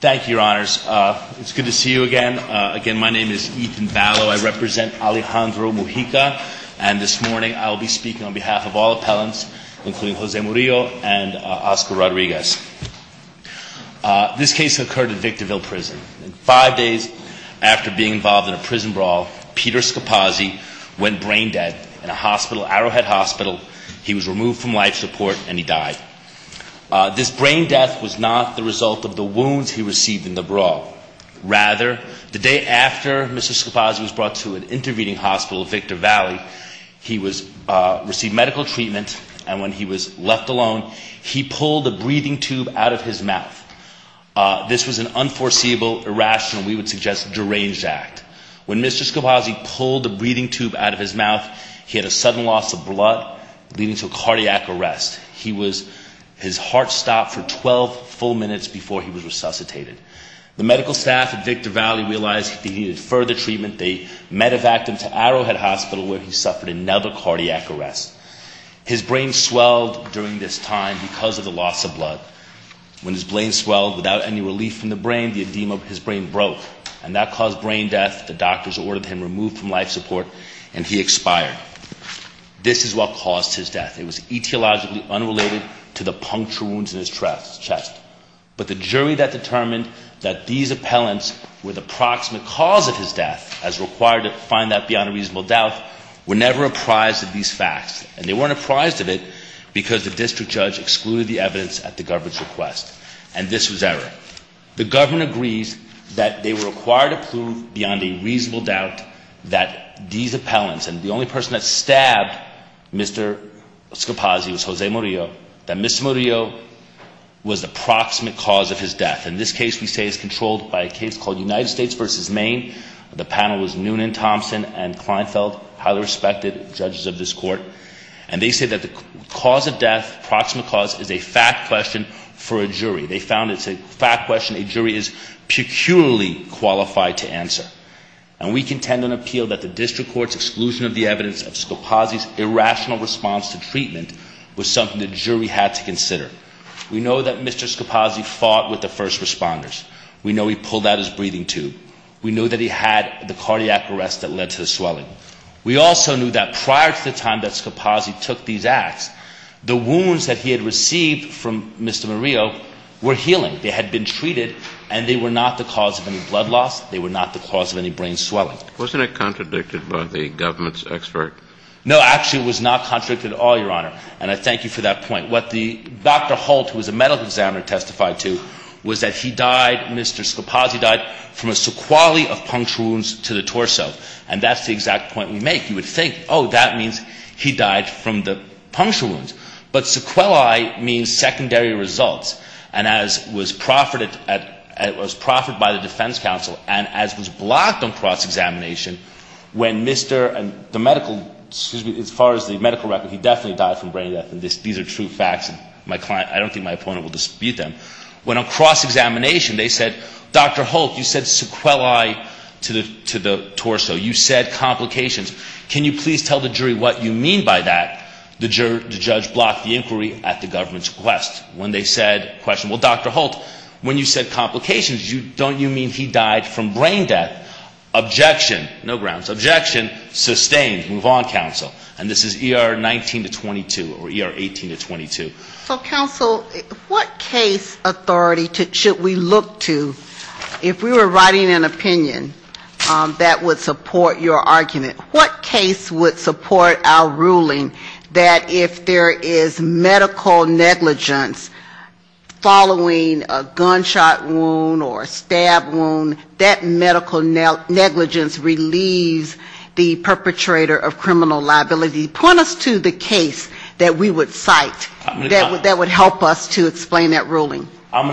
Thank you, your honors. It's good to see you again. Again, my name is Ethan Ballo. I represent Alejandro Mujica, and this morning I will be speaking on behalf of all appellants, including Jose Murillo and Oscar Rodriguez. This case occurred at Victorville Prison. Five days after being involved in a prison brawl, Peter Scapazzi went brain dead in a hospital, Arrowhead Hospital. He was removed from life support, and he died. This brain death was not the result of the wounds he received in the brawl. Rather, the day after Mr. Scapazzi was brought to an intervening hospital at Victor Valley, he received medical treatment, and when he was left alone, he pulled a breathing tube out of his mouth. This was an unforeseeable, irrational, we would suggest deranged act. When Mr. Scapazzi pulled the breathing tube out of his mouth, he had a sudden loss of blood, leading to a cardiac arrest. His heart stopped for 12 full minutes before he was resuscitated. The medical staff at Victor Valley realized he needed further treatment. They medevaced him to Arrowhead Hospital, where he suffered another cardiac arrest. His brain swelled during this time because of the loss of blood. When his brain swelled without any relief from the brain, the edema of his brain broke, and that caused brain death. The doctors ordered him removed from life support, and he expired. This is what caused his death. It was etiologically unrelated to the puncture wounds in his chest. But the jury that determined that these appellants were the proximate cause of his death, as required to find that beyond a reasonable doubt, were never apprised of these facts. And they weren't apprised of it because the district judge excluded the evidence at the government's request. And this was error. The government agrees that they were required to prove beyond a reasonable doubt that these appellants, and the only person that stabbed Mr. Scapazzi was Jose Murillo, that Mr. Murillo was the proximate cause of his death. And this case, we say, is controlled by a case called United States v. Maine. The panel was Noonan Thompson and Kleinfeld, highly respected judges of this court. And they say that the cause of death, proximate cause, is a fact question for a jury. They found it's a fact question a jury is peculiarly qualified to answer. And we contend and appeal that the district court's exclusion of the evidence of Scapazzi's irrational response to treatment was something the jury had to consider. We know that Mr. Scapazzi fought with the first responders. We know he pulled out his breathing tube. We know that he had the cardiac arrest that led to the swelling. We also knew that prior to the time that Scapazzi took these acts, the wounds that he had received from Mr. Murillo were healing. They had been treated, and they were not the cause of any blood loss. They were not the cause of any brain swelling. No, actually, it was not contradicted at all, Your Honor. And I thank you for that point. What Dr. Holt, who was a medical examiner, testified to was that he died, Mr. Scapazzi died, from a sequelae of puncture wounds to the torso. And that's the exact point we make. You would think, oh, that means he died from the puncture wounds. But sequelae means secondary results. And as was proffered by the defense counsel, and as was blocked on cross-examination, when Mr. and the medical, excuse me, as far as the medical record, he definitely died from brain death, and these are true facts. I don't think my opponent will dispute them. When on cross-examination, they said, Dr. Holt, you said sequelae to the torso. You said complications. Can you please tell the jury what you mean by that? The judge blocked the inquiry at the government's request. Well, Dr. Holt, when you said complications, don't you mean he died from brain death? Objection. No grounds. Objection. Sustained. Move on, counsel. And this is ER 19-22, or ER 18-22. So, counsel, what case authority should we look to, if we were writing an opinion, that would support your argument? What case would support our ruling that if there is medical negligence following a gunshot wound or a stab wound, that medical negligence relieves the perpetrator of criminal liability? Point us to the case that we would cite. I'm going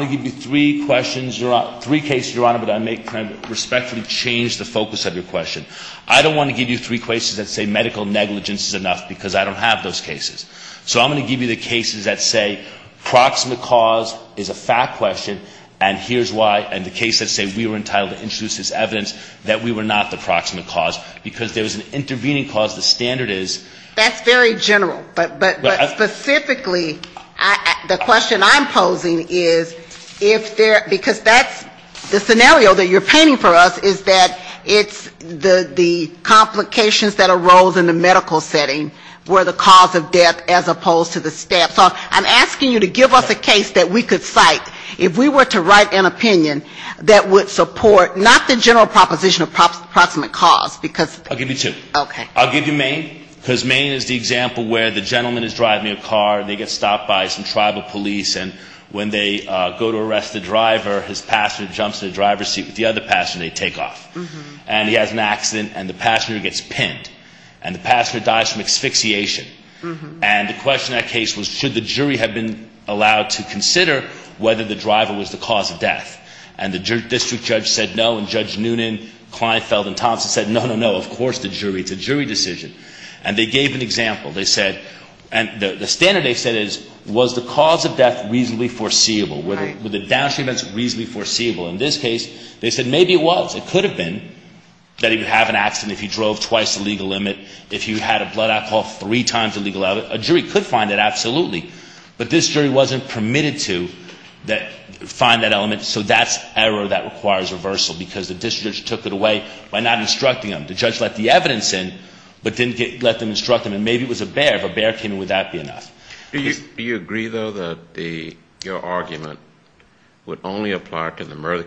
to give you three questions, three cases, Your Honor, but I may kind of respectfully change the focus of your question. I don't want to give you three cases that say medical negligence is enough because I don't have those cases. So I'm going to give you the cases that say proximate cause is a fact question, and here's why, and the cases that say we were entitled to introduce this evidence that we were not the proximate cause, because there was an intervening cause. The standard is... The question I'm posing is if there, because that's the scenario that you're painting for us, is that it's the complications that arose in the medical setting were the cause of death as opposed to the stab. So I'm asking you to give us a case that we could cite. If we were to write an opinion that would support, not the general proposition of proximate cause, because... Because Maine is the example where the gentleman is driving a car, and they get stopped by some tribal police, and when they go to arrest the driver, his passenger jumps in the driver's seat with the other passenger, and they take off. And he has an accident, and the passenger gets pinned, and the passenger dies from asphyxiation. And the question in that case was should the jury have been allowed to consider whether the driver was the cause of death? And the district judge said no, and Judge Noonan, Kleinfeld, and Thompson said no, no, no, of course the jury. It's a jury decision. And they gave an example. They said, and the standard they said is was the cause of death reasonably foreseeable? Were the downstream events reasonably foreseeable? In this case, they said maybe it was. It could have been that he would have an accident if he drove twice the legal limit, if he had a blood alcohol three times the legal limit. A jury could find it, absolutely. But this jury wasn't permitted to find that element, so that's error that requires reversal, because the district judge took it away by not instructing him. The judge let the evidence in, but didn't let them instruct him. And maybe it was a bear. If a bear came in, would that be enough? Do you agree, though, that your argument would only apply to the murder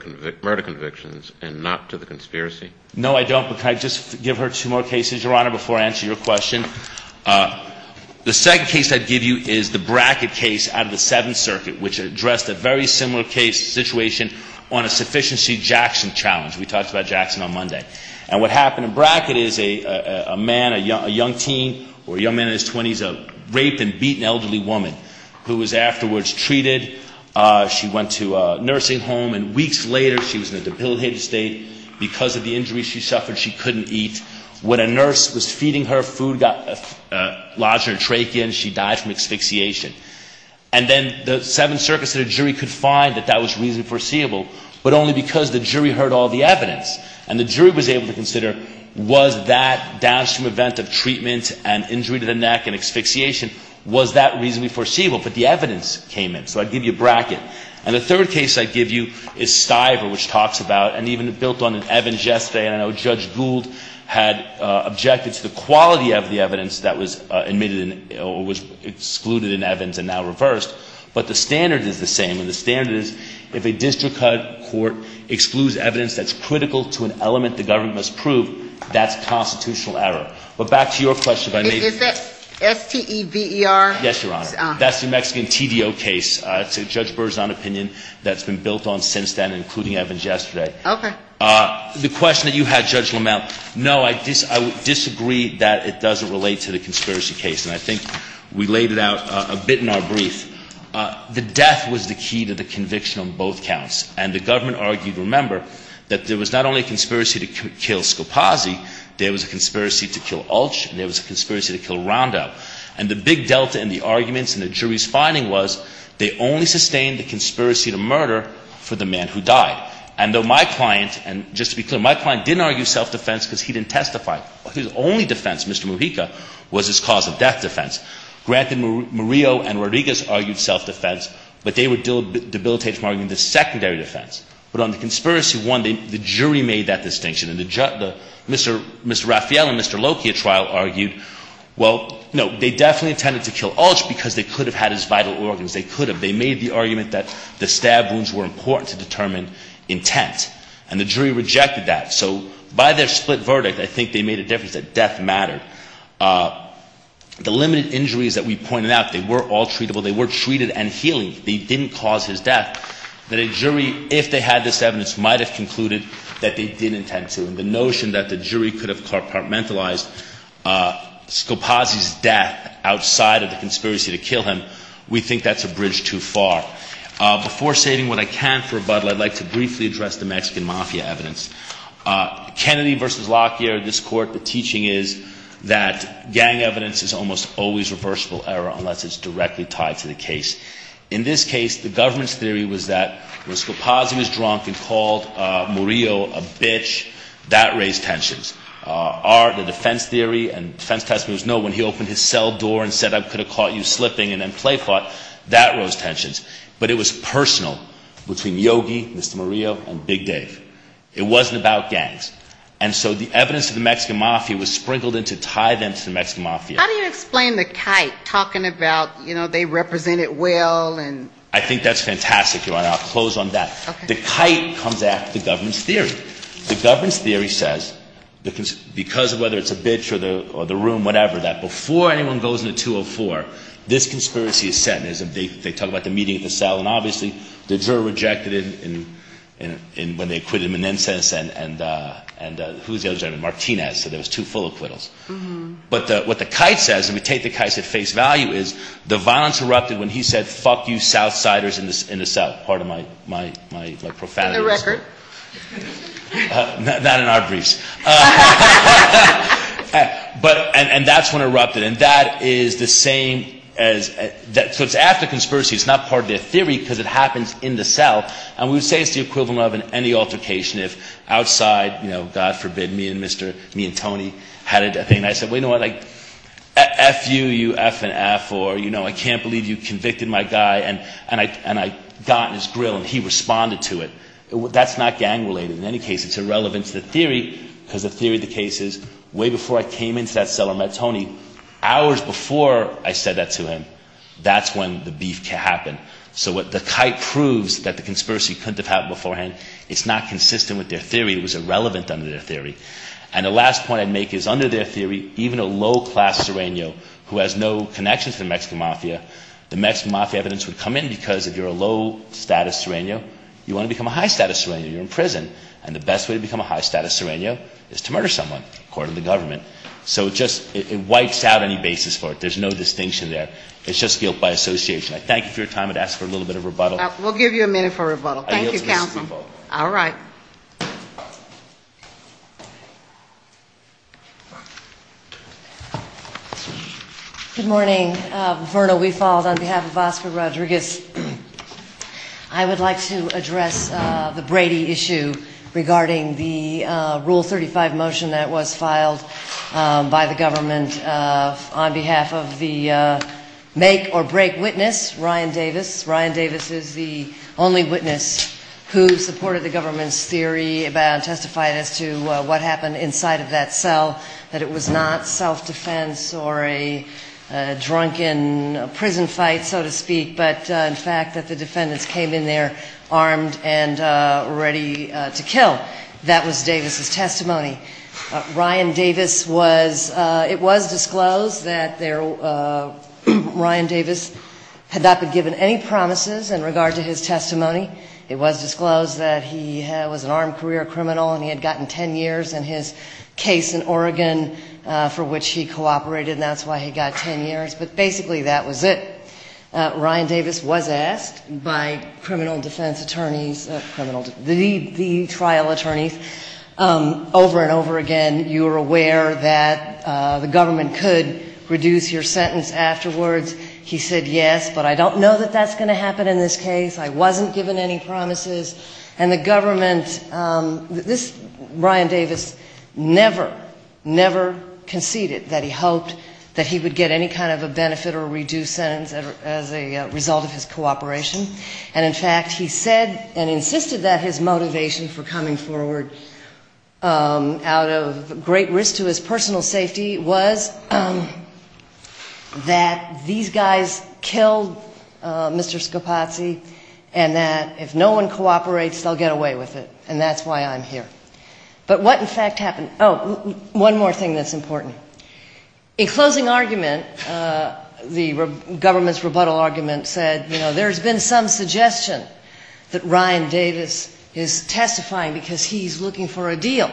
convictions and not to the conspiracy? No, I don't, but can I just give her two more cases, Your Honor, before I answer your question? The second case I'd give you is the Brackett case out of the Seventh Circuit, which addressed a very similar case, situation on a sufficiency Jackson challenge. We talked about Jackson on Monday. And what happened in Brackett is a man, a young teen, or a young man in his 20s, a raped and beaten elderly woman, who was afterwards treated. She went to a nursing home, and weeks later, she was in a debilitated state. Because of the injuries she suffered, she couldn't eat. When a nurse was feeding her, food lodged in her trachea, and she died from asphyxiation. And then the Seventh Circuit said a jury could find that that was reasonably foreseeable, but only because the jury heard all the evidence. And the jury was able to consider, was that downstream event of treatment and injury to the neck and asphyxiation, was that reasonably foreseeable? But the evidence came in. So I'd give you Brackett. And the third case I'd give you is Stiver, which talks about, and even built on Evans yesterday. And I know Judge Gould had objected to the quality of the evidence that was excluded in Evans and now reversed. But the standard is the same, and the standard is, if a district court excludes evidence that's critical to an element the government must prove, that's constitutional error. But back to your question. Is that S-T-E-V-E-R? Yes, Your Honor. That's the Mexican TDO case. It's a Judge Berzon opinion that's been built on since then, including Evans yesterday. Okay. The question that you had, Judge Lamel, no, I disagree that it doesn't relate to the conspiracy case. And I think we laid it out a bit in our brief. The death was the key to the conviction on both counts. And the government argued, remember, that there was not only a conspiracy to kill Scopazzi, there was a conspiracy to kill Ulch, and there was a conspiracy to kill Rondo. And the big delta in the arguments and the jury's finding was they only sustained the conspiracy to murder for the man who died. And though my client, and just to be clear, my client didn't argue self-defense because he didn't testify. His only defense, Mr. Mujica, was his cause of death defense. Granted, Murillo and Rodriguez argued self-defense, but they were debilitated from arguing the secondary defense. But on the conspiracy one, the jury made that distinction. And Mr. Raphael in Mr. Lokia's trial argued, well, no, they definitely intended to kill Ulch because they could have had his vital organs. They could have. They made the argument that the stab wounds were important to determine intent. And the jury rejected that. So by their split verdict, I think they made a difference, that death mattered. The limited injuries that we pointed out, they were all treatable. They were treated and healing. They didn't cause his death. We think that a jury, if they had this evidence, might have concluded that they didn't intend to. And the notion that the jury could have compartmentalized Scopazzi's death outside of the conspiracy to kill him, we think that's a bridge too far. Before saving what I can for rebuttal, I'd like to briefly address the Mexican Mafia evidence. Kennedy v. Lokia, this Court, the teaching is that gang evidence is almost always reversible error unless it's directly tied to the case. In this case, the government's theory was that when Scopazzi was drunk and called Murillo a bitch, that raised tensions. Our defense theory and defense testimony was no, when he opened his cell door and said I could have caught you slipping and then play fought, that rose tensions. But it was personal between Yogi, Mr. Murillo, and Big Dave. It wasn't about gangs. And so the evidence of the Mexican Mafia was sprinkled in to tie them to the Mexican Mafia. How do you explain the kite, talking about, you know, they represented well and? I think that's fantastic, Your Honor. I'll close on that. Okay. The kite comes after the government's theory. The government's theory says because of whether it's a bitch or the room, whatever, that before anyone goes into 204, this conspiracy is set. They talk about the meeting at the cell. And obviously the juror rejected it when they acquitted Menendez and who was the other juror? Martinez. So there was two full acquittals. But what the kite says, and we take the kite at face value, is the violence erupted when he said fuck you South Siders in the cell. Pardon my profanity. On the record. Not in our briefs. And that's when it erupted. And that is the same as, so it's after conspiracy. It's not part of their theory because it happens in the cell. And we would say it's the equivalent of any altercation if outside, you know, God forbid me and Tony had a thing. And I said, wait a minute, like, F you, you F and F, or, you know, I can't believe you convicted my guy. And I got on his grill and he responded to it. That's not gang related. In any case, it's irrelevant to the theory because the theory of the case is way before I came into that cell and met Tony, hours before I said that to him, that's when the beef happened. So what the kite proves that the conspiracy couldn't have happened beforehand, it's not consistent with their theory. It was irrelevant under their theory. And the last point I'd make is under their theory, even a low class serenio who has no connection to the Mexican Mafia, the Mexican Mafia evidence would come in because if you're a low status serenio, you want to become a high status serenio. You're in prison. And the best way to become a high status serenio is to murder someone, according to the government. So it just, it wipes out any basis for it. There's no distinction there. It's just guilt by association. I thank you for your time. I'd ask for a little bit of rebuttal. We'll give you a minute for rebuttal. Thank you, Counsel. All right. Good morning. Verna Weefald on behalf of Oscar Rodriguez. I would like to address the Brady issue regarding the Rule 35 motion that was filed by the government on behalf of the make or break witness, Ryan Davis. Ryan Davis is the only witness who supported the government's theory about, testified as to what happened inside of that cell. That it was not self-defense or a drunken prison fight, so to speak, but in fact that the defendants came in there armed and ready to kill. Ryan Davis was, it was disclosed that there, Ryan Davis had not been given any promises in regard to his testimony. It was disclosed that he was an armed career criminal and he had gotten 10 years in his case in Oregon for which he cooperated, and that's why he got 10 years. But basically that was it. Ryan Davis was asked by criminal defense attorneys, the trial attorneys, over and over again, you are aware that the government could reduce your sentence afterwards. He said yes, but I don't know that that's going to happen in this case. I wasn't given any promises, and the government, this, Ryan Davis never, never conceded that he hoped that he would get any kind of a benefit or reduced sentence, as a result of his cooperation, and in fact he said and insisted that his motivation for coming forward out of great risk to his personal safety was that these guys killed Mr. Scopazzi, and that if no one cooperates, they'll get away with it, and that's why I'm here. But what in fact happened, oh, one more thing that's important. In closing argument, the government's rebuttal argument said, you know, there's been some suggestion that Ryan Davis is testifying because he's looking for a deal.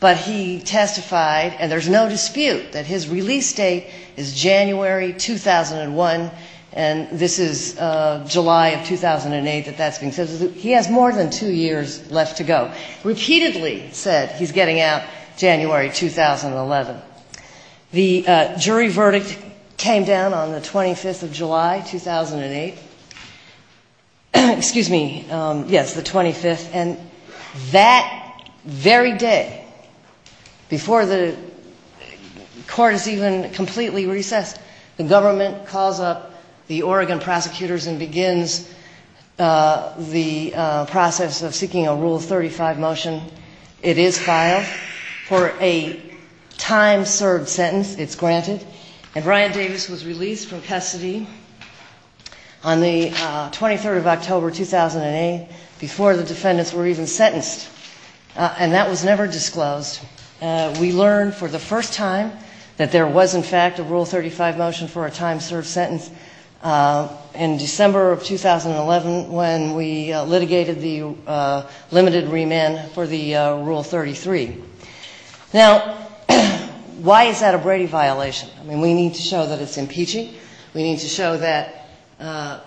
But he testified, and there's no dispute that his release date is January 2001, and this is July of 2008 that that's being said. He has more than two years left to go. Repeatedly said he's getting out January 2011. The jury verdict came down on the 25th of July 2008, excuse me, yes, the 25th, and that very day, before the court is even completely recessed, the government calls up the Oregon prosecutors and begins the process of seeking a Rule 35 motion. It is filed for a time served sentence. It's granted, and Ryan Davis was released from custody on the 23rd of October 2008 before the defendants were even sentenced, and that was never disclosed. We learned for the first time that there was in fact a Rule 35 motion for a time served sentence in December of 2011 when we litigated the limited remand for the Rule 33. Now, why is that a Brady violation? I mean, we need to show that it's impeaching, we need to show that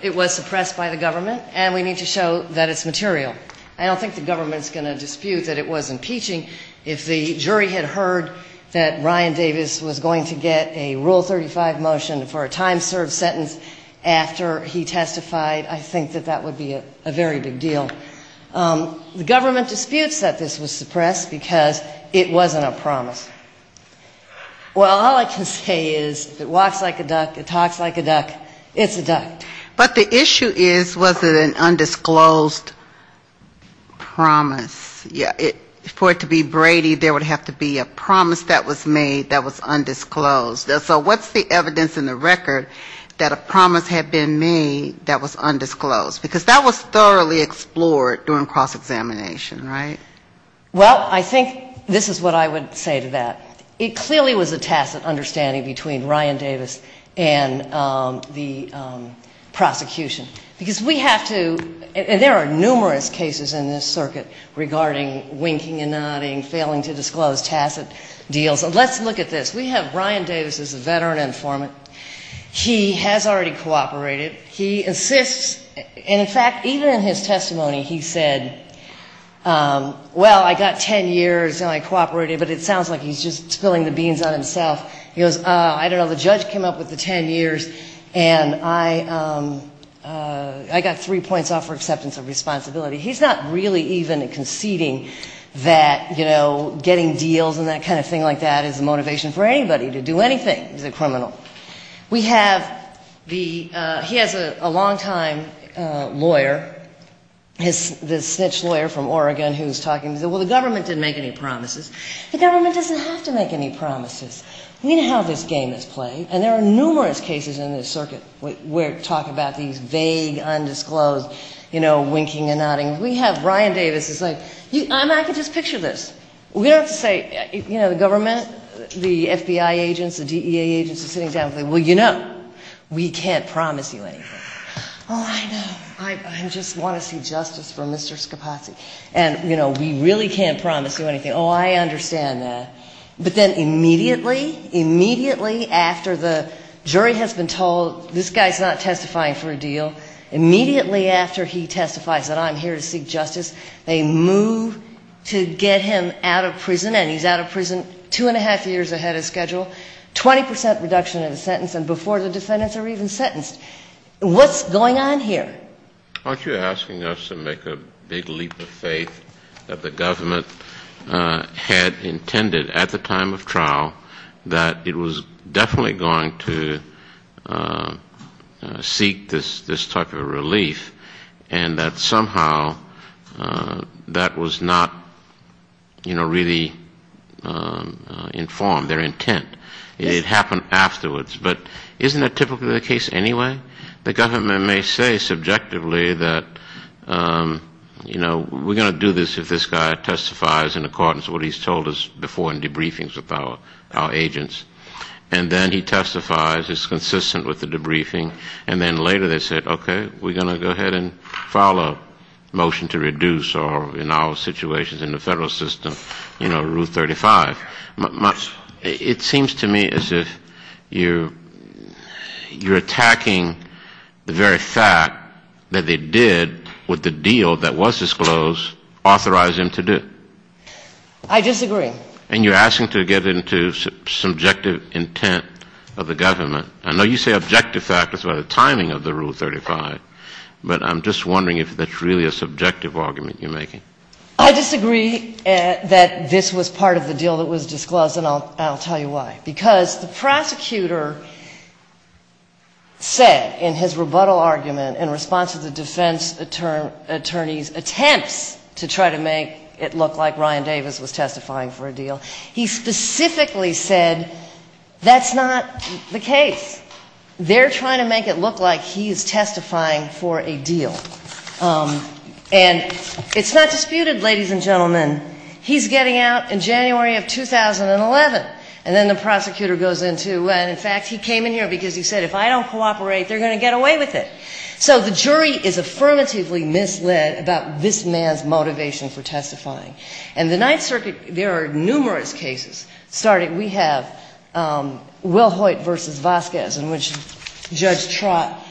it was suppressed by the government, and we need to show that it's material. I don't think the government's going to dispute that it was impeaching. If the jury had heard that Ryan Davis was going to get a Rule 35 motion for a time served sentence after he testified, I think that that would be a very big deal. The government disputes that this was suppressed because it wasn't a promise. Well, all I can say is it walks like a duck, it talks like a duck, it's a duck. But the issue is, was it an undisclosed promise? For it to be Brady, there would have to be a promise that was made that was undisclosed. So what's the evidence in the record that a promise had been made that was undisclosed? Because that was thoroughly explored during cross-examination, right? Well, I think this is what I would say to that. It clearly was a tacit understanding between Ryan Davis and the prosecution. Because we have to, and there are numerous cases in this circuit regarding winking and nodding, failing to disclose, tacit deals. Let's look at this. We have Ryan Davis as a veteran informant. He has already cooperated. He insists, and in fact, even in his testimony he said, well, I got 10 years and I cooperated, but it sounds like he's just spilling the beans on himself. He goes, I don't know, the judge came up with the 10 years, and I got three points off for acceptance of responsibility. He's not really even conceding that, you know, getting deals and that kind of thing like that is the motivation for anybody to do anything as a criminal. We have the, he has a long-time lawyer, the snitch lawyer from Oregon who's talking, he said, well, the government didn't make any promises. The government doesn't have to make any promises. We know how this game is played, and there are numerous cases in this circuit where talk about these vague, undisclosed, you know, winking and nodding. We have Ryan Davis who's like, I can just picture this. We don't have to say, you know, the government, the FBI agents, the DEA agents are sitting down and saying, well, you know, we can't promise you anything. Oh, I know, I just want to see justice for Mr. Scapazzi. And, you know, we really can't promise you anything. Oh, I understand that. But then immediately, immediately after the jury has been told this guy's not testifying for a deal, immediately after he testifies that I'm here to seek justice, they move to get him out of prison, and he's out of prison two and a half years ahead of schedule, 20% reduction in the sentence, and before the defendants are even sentenced. What's going on here? The government may say subjectively that, you know, we're going to do this if this guy testifies in accordance with what he's told us before in debriefings with our agents. And then he testifies, is consistent with the debriefing, and then later they said, okay, we're going to go ahead and file a motion to reduce, or in our situations in the federal system, you know, rule 35. It seems to me as if you're attacking the very fact that they did with the deal that was disclosed authorize him to do. I disagree. And you're asking to get into subjective intent of the government. I know you say objective factors, but the timing of the rule 35, but I'm just wondering if that's really a subjective argument you're making. I disagree that this was part of the deal that was disclosed, and I'll tell you why. Because the prosecutor said in his rebuttal argument in response to the defense attorney's attempts to try to make it look like Ryan Davis was testifying for a deal, he specifically said that's not the case. They're trying to make it look like he's testifying for a deal. And it's not disputed, ladies and gentlemen, he's getting out in January of 2011. And then the prosecutor goes into, and in fact he came in here because he said if I don't cooperate, they're going to get away with it. So the jury is affirmatively misled about this man's motivation for testifying. And the Ninth Circuit, there are numerous cases starting. We have Will Hoyt v. Vasquez in which Judge Trott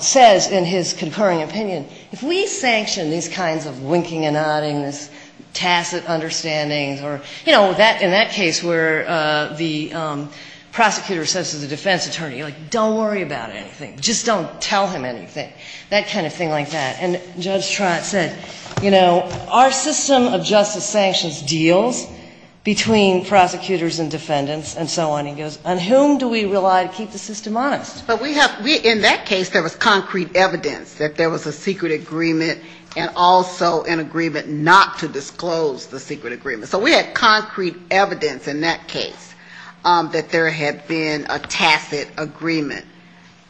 says in his concurring opinion, if we sanction these kinds of winking and nodding, these tacit understandings, or, you know, in that case where the prosecutor says to the defense attorney, like, don't worry about anything, just don't tell him anything, that kind of thing like that. And Judge Trott said, you know, our system of justice sanctions deals between prosecutors and defendants and so on. And he goes, on whom do we rely to keep the system honest? But we have, in that case there was concrete evidence that there was a secret agreement and also an agreement not to disclose the secret agreement. So we had concrete evidence in that case that there had been a tacit agreement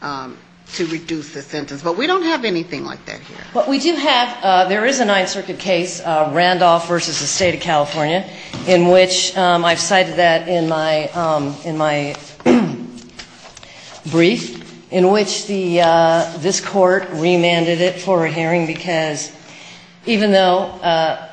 to reduce the sentence. But we don't have anything like that here. But we do have, there is a Ninth Circuit case, Randolph v. the State of California, in which I've cited that in my brief, in which this court remanded it for a hearing because even though,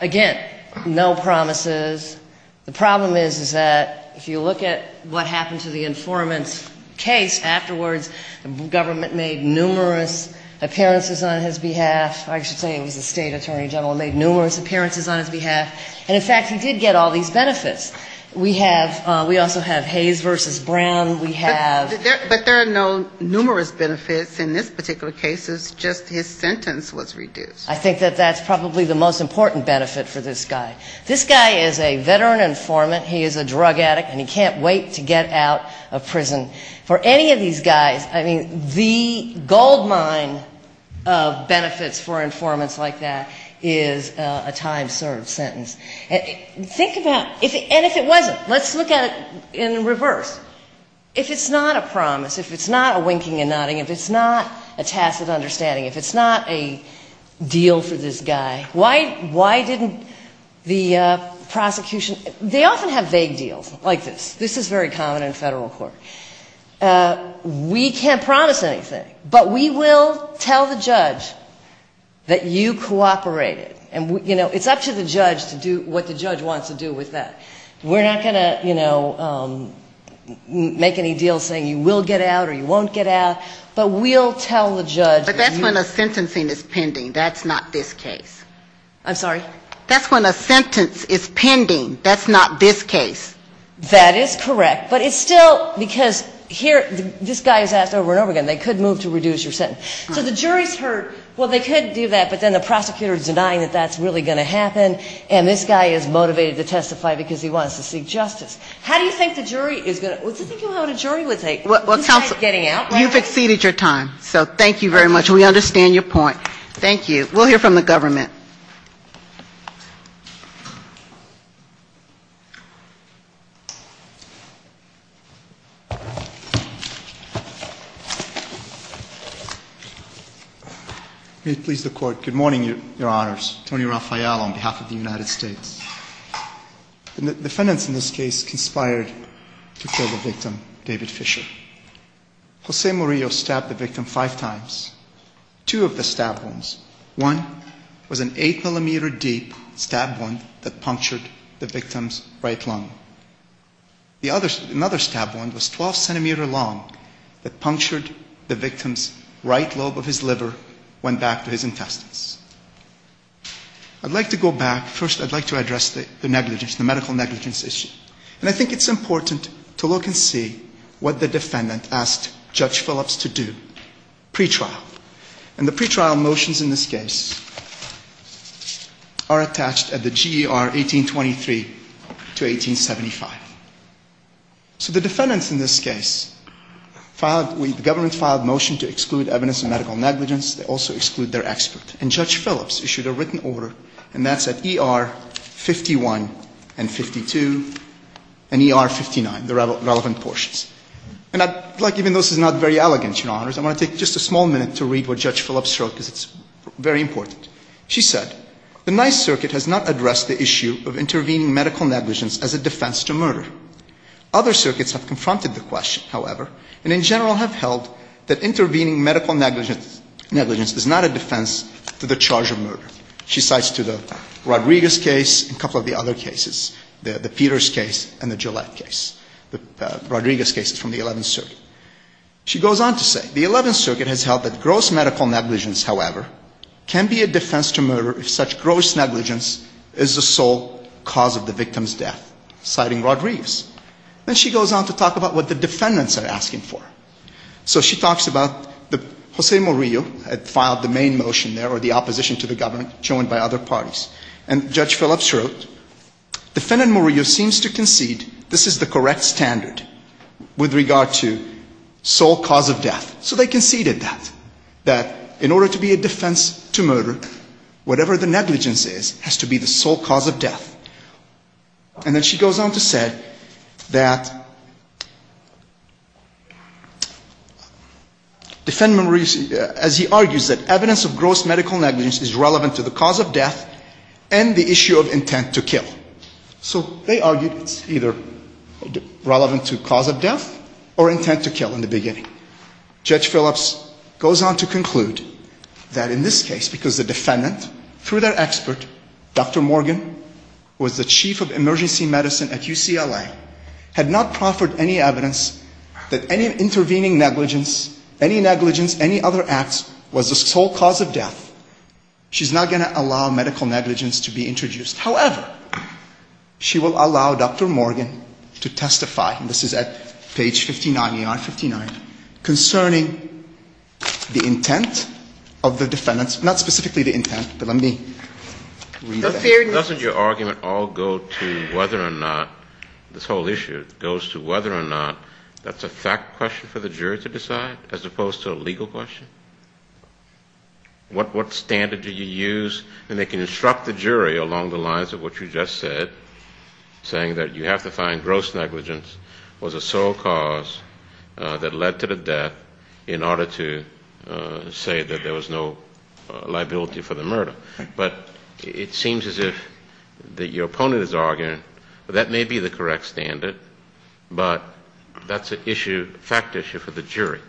again, no promises, the problem is that if you look at what happened to the informant's case afterwards, the government made numerous appearances on his behalf. I should say it was the State Attorney General made numerous appearances on his behalf. And, in fact, he did get all these benefits. We have, we also have Hayes v. Brown. We have ‑‑ But there are no numerous benefits in this particular case. It's just his sentence was reduced. I think that that's probably the most important benefit for this guy. This guy is a veteran informant. He is a drug addict and he can't wait to get out of prison. For any of these guys, I mean, the gold mine of benefits for informants like that is a time‑served sentence. Think about, and if it wasn't, let's look at it in reverse. If it's not a promise, if it's not a winking and nodding, if it's not a tacit understanding, if it's not a deal for this guy, why didn't the prosecution, they often have vague deals like this. This is very common in federal court. We can't promise anything, but we will tell the judge that you cooperated. And, you know, it's up to the judge to do what the judge wants to do with that. We're not going to, you know, make any deal saying you will get out or you won't get out, but we'll tell the judge that you cooperated. But that's when a sentencing is pending. That's not this case. That is correct. But it's still, because here, this guy is asked over and over again, they could move to reduce your sentence. So the jury's heard, well, they could do that, but then the prosecutor is denying that that's really going to happen, and this guy is motivated to testify because he wants to seek justice. How do you think the jury is going to ‑‑ what do you think you'll have a jury with a guy getting out? You've exceeded your time. So thank you very much. We understand your point. Thank you. We'll hear from the government. Thank you. May it please the court, good morning, your honors. Tony Rafael on behalf of the United States. The defendants in this case conspired to kill the victim, David Fischer. Jose Mourio stabbed the victim five times. Two of the stabbed ones. One was an 8 millimeter deep stabbed wound that punctured the victim's right lung. The other, another stabbed wound was 12 centimeter long that punctured the victim's right lobe of his liver, went back to his intestines. I'd like to go back, first I'd like to address the negligence, the medical negligence issue. And I think it's important to look and see what the defendant asked Judge Phillips to do, pretrial. And the pretrial motions in this case are attached at the GER 1823 to 1875. So the defendants in this case filed, the government filed a motion to exclude evidence of medical negligence. They also exclude their expert. And Judge Phillips issued a written order and that's at ER 51 and 52 and ER 59, the relevant portions. And I'd like, even though this is not very elegant, your honors, I want to take just a small minute to read what Judge Phillips wrote because it's very important. She said, the NICE circuit has not addressed the issue of intervening medical negligence as a defense to murder. Other circuits have confronted the question, however, and in general have held that intervening medical negligence is not a defense to the charge of murder. She cites to the Rodriguez case and a couple of the other cases, the Peters case and the Gillette case. The Rodriguez case is from the 11th circuit. She goes on to say, the 11th circuit has held that gross medical negligence, however, can be a defense to murder if such gross negligence is the sole cause of the victim's death, citing Rodriguez. Then she goes on to talk about what the defendants are asking for. So she talks about Jose Murillo had filed the main motion there or the opposition to the government joined by other parties. And Judge Phillips wrote, defendant Murillo seems to concede this is the correct standard with regard to sole cause of death. So they conceded that, that in order to be a defense to murder, whatever the negligence is, has to be the sole cause of death. And then she goes on to say that defendant Murillo, as he argues, that evidence of gross medical negligence is relevant to the cause of death and the issue of intent to kill. So they argued it's either relevant to cause of death or intent to kill in the beginning. Judge Phillips goes on to conclude that in this case, because the defendant, through their expert, Dr. Morgan, and Dr. Murillo, who was the chief of emergency medicine at UCLA, had not proffered any evidence that any intervening negligence, any negligence, any other acts, was the sole cause of death, she's not going to allow medical negligence to be introduced. However, she will allow Dr. Morgan to testify, and this is at page 59, ER 59, concerning the intent of the defendants, not specifically the intent, but let me read that. Doesn't your argument all go to whether or not, this whole issue goes to whether or not that's a fact question for the jury to decide, as opposed to a legal question? What standard do you use? And they can instruct the jury along the lines of what you just said, saying that you have to find gross negligence was a sole cause that led to the death in order to say that there was no liability for the murder. But it seems as if your opponent is arguing that that may be the correct standard, but that's an issue, a fact issue for the jury,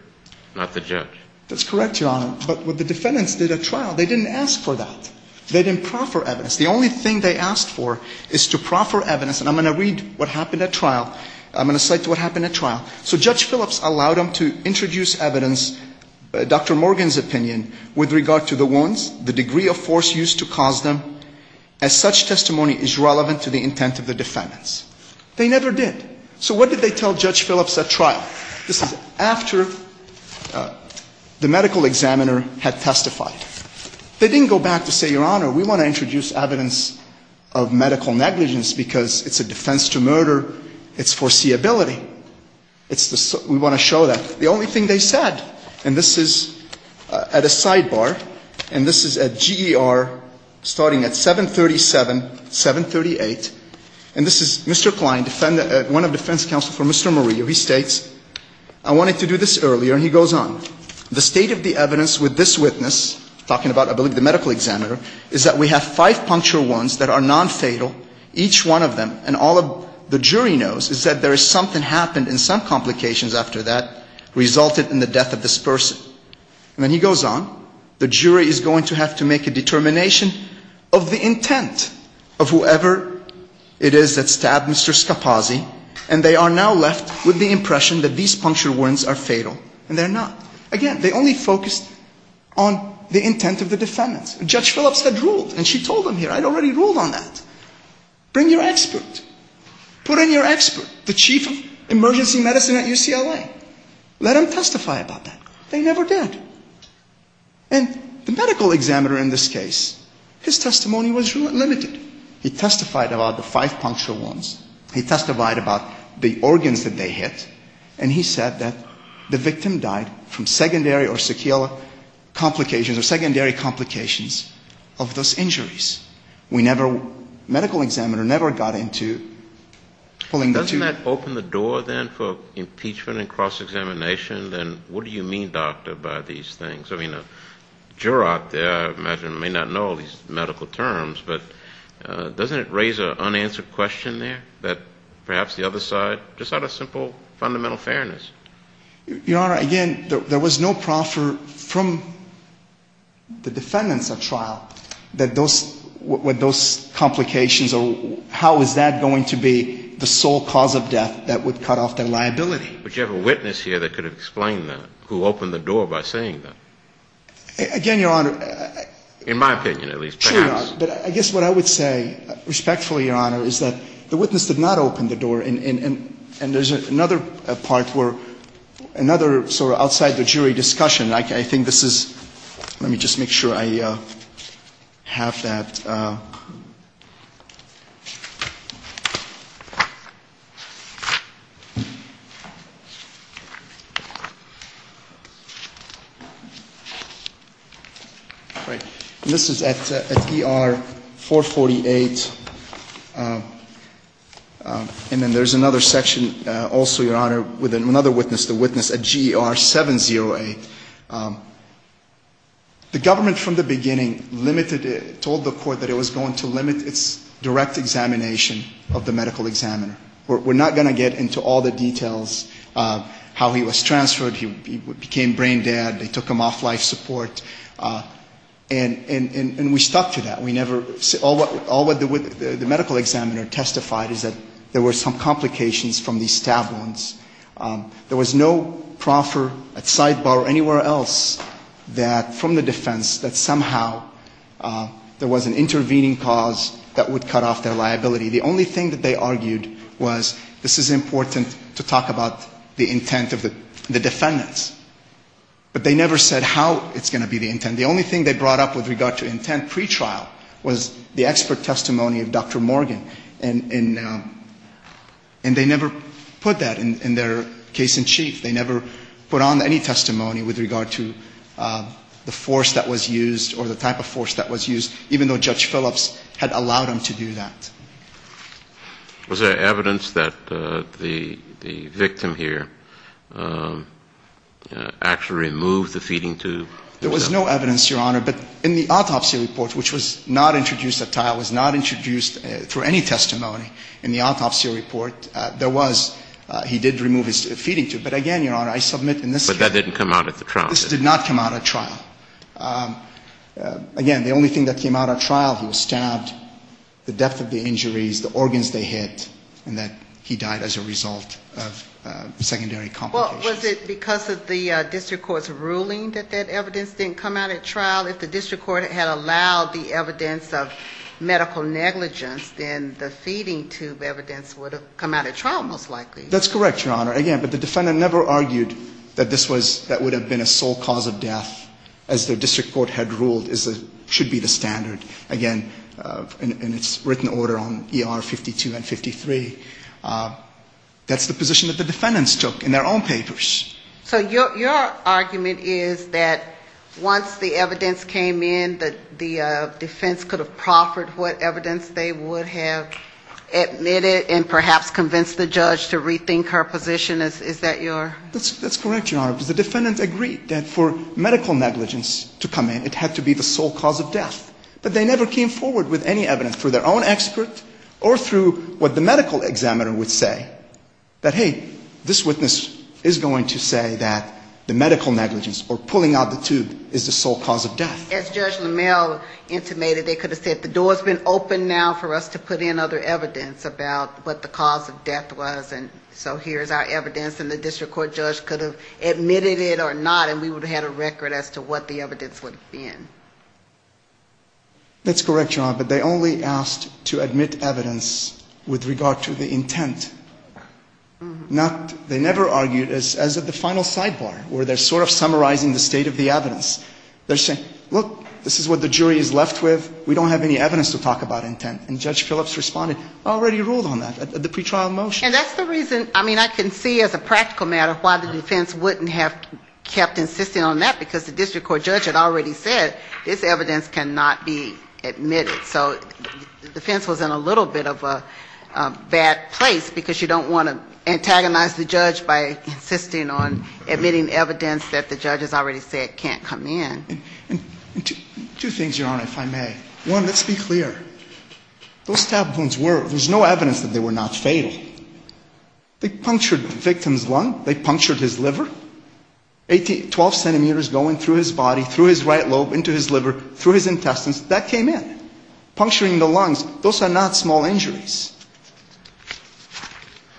not the judge. That's correct, Your Honor, but what the defendants did at trial, they didn't ask for that. They didn't proffer evidence. The only thing they asked for is to proffer evidence, and I'm going to read what happened at trial, I'm going to cite what happened at trial. So Judge Phillips allowed them to introduce evidence, Dr. Morgan's opinion, with regard to the wounds, the degree of force used to cause them, as such testimony is relevant to the intent of the defendants. They never did, so what did they tell Judge Phillips at trial? This is after the medical examiner had testified. They didn't go back to say, Your Honor, we want to introduce evidence of medical negligence because it's a defense to murder, it's foreseeability. We want to show that the only thing they said, and this is at a sidebar, and this is at GER starting at 737, 738, and this is Mr. Kline, one of the defense counsel for Mr. Murillo. He states, I wanted to do this earlier, and he goes on, the state of the evidence with this witness, talking about, I believe, the medical examiner, is that we have five puncture wounds that are nonfatal. Each one of them, and all of the jury knows, is that there is something happened and some complications after that resulted in the death of this person. And then he goes on, the jury is going to have to make a determination of the intent of whoever it is that stabbed Mr. Scapazzi, and they are now left with the impression that these puncture wounds are fatal, and they're not. Again, they only focused on the intent of the defendants. Judge Phillips had ruled, and she told them here, I'd already ruled on that. Bring your expert. Put in your expert, the chief of emergency medicine at UCLA. Let them testify about that. They never did. And the medical examiner in this case, his testimony was limited. He testified about the five puncture wounds, he testified about the organs that they hit, and he said that the victim died from secondary or sequela complications, or secondary complications. Of those injuries. The medical examiner never got into pulling the two... Doesn't that open the door then for impeachment and cross-examination? Then what do you mean, doctor, by these things? I mean, a juror out there, I imagine, may not know these medical terms, but doesn't it raise an unanswered question there, that perhaps the other side, just out of simple, fundamental fairness? Your Honor, again, there was no proffer from the defendants at trial that those, with those complications, or how is that going to be the sole cause of death that would cut off their liability? But you have a witness here that could explain that, who opened the door by saying that. Again, Your Honor... In my opinion, at least, perhaps. But I guess what I would say, respectfully, Your Honor, is that the witness did not open the door, and there's another part where, another sort of outside the jury discussion. I think this is, let me just make sure I have that. And this is at ER 448, and then there's another section, also, Your Honor, with another witness, the witness at GR 70A. The government, from the beginning, limited, told the court that it was going to limit its direct examination of the medical examiner. We're not going to get into all the details, how he was transferred, he became brain dead, they took him off life support, and we stuck to that. We never, all the medical examiner testified is that there were some complications from these stab wounds. There was no proffer, a sidebar, anywhere else, that, from the defense, that somehow there was an intervening cause that would cut off their liability. The only thing that they argued was, this is important to talk about the intent of the defendants. But they never said how it's going to be the intent. And the only thing they brought up with regard to intent pre-trial was the expert testimony of Dr. Morgan, and they never put that in their case in chief. They never put on any testimony with regard to the force that was used, or the type of force that was used, even though Judge Phillips had allowed him to do that. Was there evidence that the victim here actually removed the feeding tube? There was no evidence, Your Honor, but in the autopsy report, which was not introduced at trial, was not introduced through any testimony in the autopsy report. There was, he did remove his feeding tube, but again, Your Honor, I submit in this case. But that didn't come out at the trial? This did not come out at trial. Again, the only thing that came out at trial, he was stabbed, the depth of the injuries, the organs they hit, and that he died as a result of secondary complications. Well, was it because of the district court's ruling that that evidence didn't come out at trial? If the district court had allowed the evidence of medical negligence, then the feeding tube evidence would have come out at trial, most likely. That's correct, Your Honor. Again, but the defendant never argued that this was, that would have been a sole cause of death, as the district court had ruled, as it should be the standard, again, in its written order on ER 52 and 53. That's the position that the defendants took in their own papers. So your argument is that once the evidence came in, that the defense could have proffered what evidence they would have admitted and perhaps convinced the judge to rethink her position? Is that your? That's correct, Your Honor, because the defendants agreed that for medical negligence to come in, it had to be the sole cause of death. But they never came forward with any evidence, through their own expert or through what the medical examiner would say, that, hey, this witness is going to say that the medical negligence, or pulling out the tube, is the sole cause of death. As Judge LaMalle intimated, they could have said, the door's been opened now for us to put in other evidence about what the cause of death was, and so here's our evidence, and the district court judge could have admitted it or not, and we would have had a record as to what the evidence would have been. That's correct, Your Honor, but they only asked to admit evidence with regard to the intent. Not, they never argued, as of the final sidebar, where they're sort of summarizing the state of the evidence. They're saying, look, this is what the jury is left with, we don't have any evidence to talk about intent, and Judge Phillips responded, already ruled on that at the pretrial motion. And that's the reason, I mean, I can see as a practical matter why the defense wouldn't have kept insisting on that, because the district court judge had already said, this evidence cannot be used. It cannot be admitted, so the defense was in a little bit of a bad place, because you don't want to antagonize the judge by insisting on admitting evidence that the judge has already said can't come in. And two things, Your Honor, if I may. One, let's be clear, those stab wounds were, there's no evidence that they were not fatal. They punctured the victim's lung, they punctured his liver. Twelve centimeters going through his body, through his right lobe, into his liver, through his intestines, that came in. Puncturing the lungs, those are not small injuries.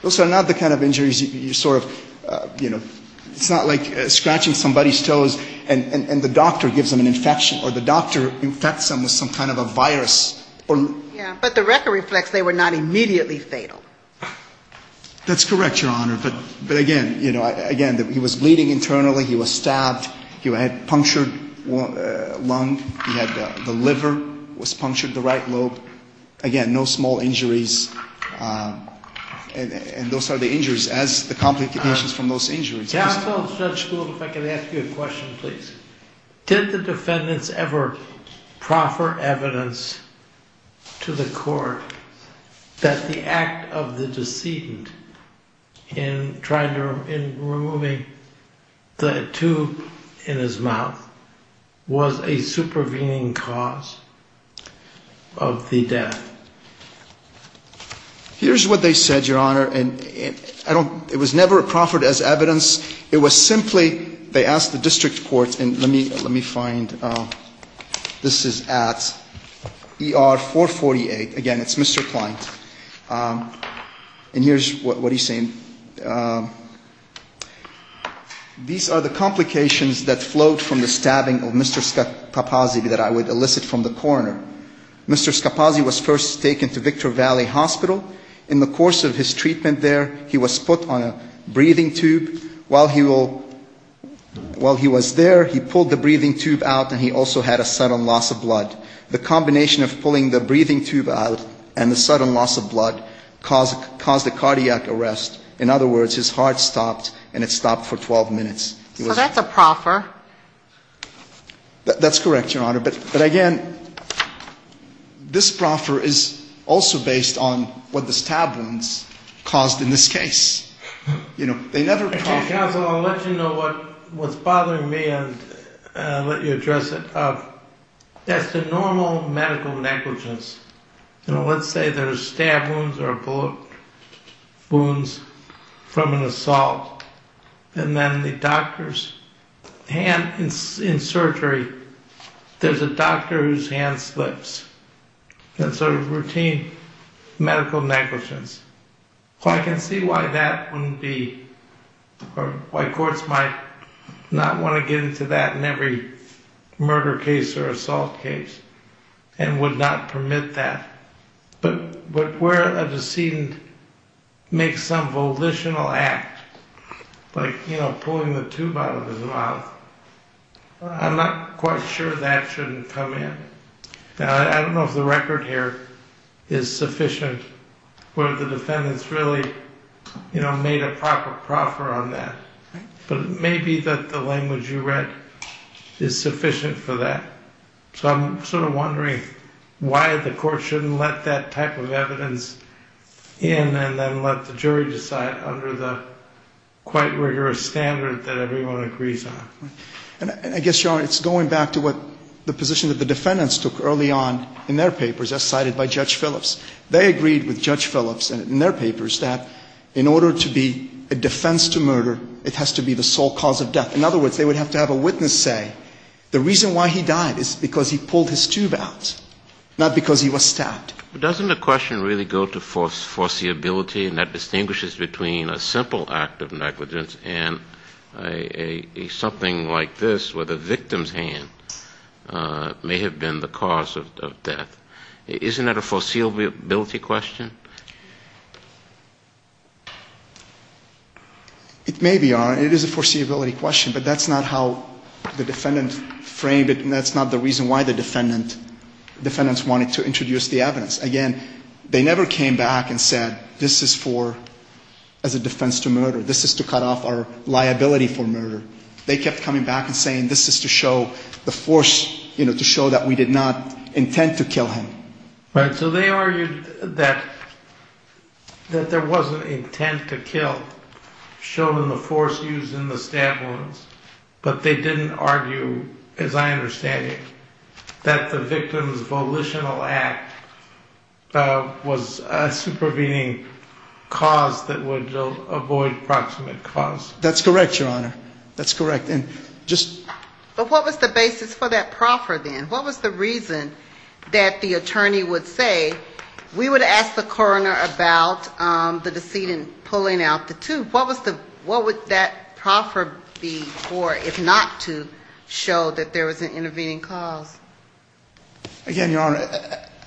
Those are not the kind of injuries you sort of, you know, it's not like scratching somebody's toes and the doctor gives them an infection, or the doctor infects them with some kind of a virus. Yeah, but the record reflects they were not immediately fatal. That's correct, Your Honor, but again, you know, again, he was bleeding internally, he was stabbed, he had a punctured lung, he had the liver was punctured, the right lobe. Again, no small injuries, and those are the injuries as the complications from those injuries. Counsel, Judge Gould, if I could ask you a question, please. Did the defendants ever proffer evidence to the court that the act of puncturing the right lobe was fatal? Or that the act of the decedent in trying to, in removing the tube in his mouth was a supervening cause of the death? Here's what they said, Your Honor, and I don't, it was never proffered as evidence. It was simply, they asked the district court, and let me find, this is at ER 448. Again, it's Mr. Kline, and here's what he's saying. These are the complications that flowed from the stabbing of Mr. Scapazzi that I would elicit from the coroner. Mr. Scapazzi was first taken to Victor Valley Hospital. In the course of his treatment there, he was put on a breathing tube. While he was there, he pulled the breathing tube out, and he also had a sudden loss of blood. The combination of pulling the breathing tube out and the sudden loss of blood caused a cardiac arrest. In other words, his heart stopped, and it stopped for 12 minutes. So that's a proffer. That's correct, Your Honor. But again, this proffer is also based on what the stab wounds caused in this case. Counsel, I'll let you know what's bothering me, and I'll let you address it. That's the normal medical negligence. Let's say there's stab wounds or bullet wounds from an assault, and then the doctor's hand, in surgery, there's a doctor whose hand slips. That's a routine medical negligence. I can see why that wouldn't be, or why courts might not want to get into that in every murder case or assault case, and would not permit that. But where a decedent makes some volitional act, like pulling the tube out of his mouth, I'm not quite sure that shouldn't come in. I don't know if the record here is sufficient, whether the defendants really made a proper proffer on that. But it may be that the language you read is sufficient for that. So I'm sort of wondering why the court shouldn't let that type of evidence in, and then let the jury decide under the quite rigorous standard that everyone agrees on. And I guess, Your Honor, it's going back to the position that the defendants took early on in their papers, as cited by Judge Phillips. They agreed with Judge Phillips in their papers that in order to be a defense to murder, it has to be the sole cause of death. In other words, they would have to have a witness say, the reason why he died is because he pulled his tube out, not because he was stabbed. But doesn't the question really go to foreseeability, and that distinguishes between a simple act of negligence and something like this, where the victim's hand may have been the cause of death? Isn't that a foreseeability question? It may be, Your Honor. It is a foreseeability question. But that's not how the defendant framed it, and that's not the reason why the defendants wanted to introduce the evidence. Again, they never came back and said, this is for, as a defense to murder, this is to cut off our liability for murder. They kept coming back and saying, this is to show the force, to show that we did not intend to kill him. So they argued that there was an intent to kill, shown in the force used in the stab wounds, but they didn't argue, as I understand it, that the victim's volitional act was a supervening cause that would avoid proximate cause. That's correct, Your Honor. That's correct. But what was the basis for that proffer then? What was the reason that the attorney would say, we would ask the coroner about the decedent pulling out the tube. What would that proffer be for if not to show that there was an intervening cause? Again, Your Honor,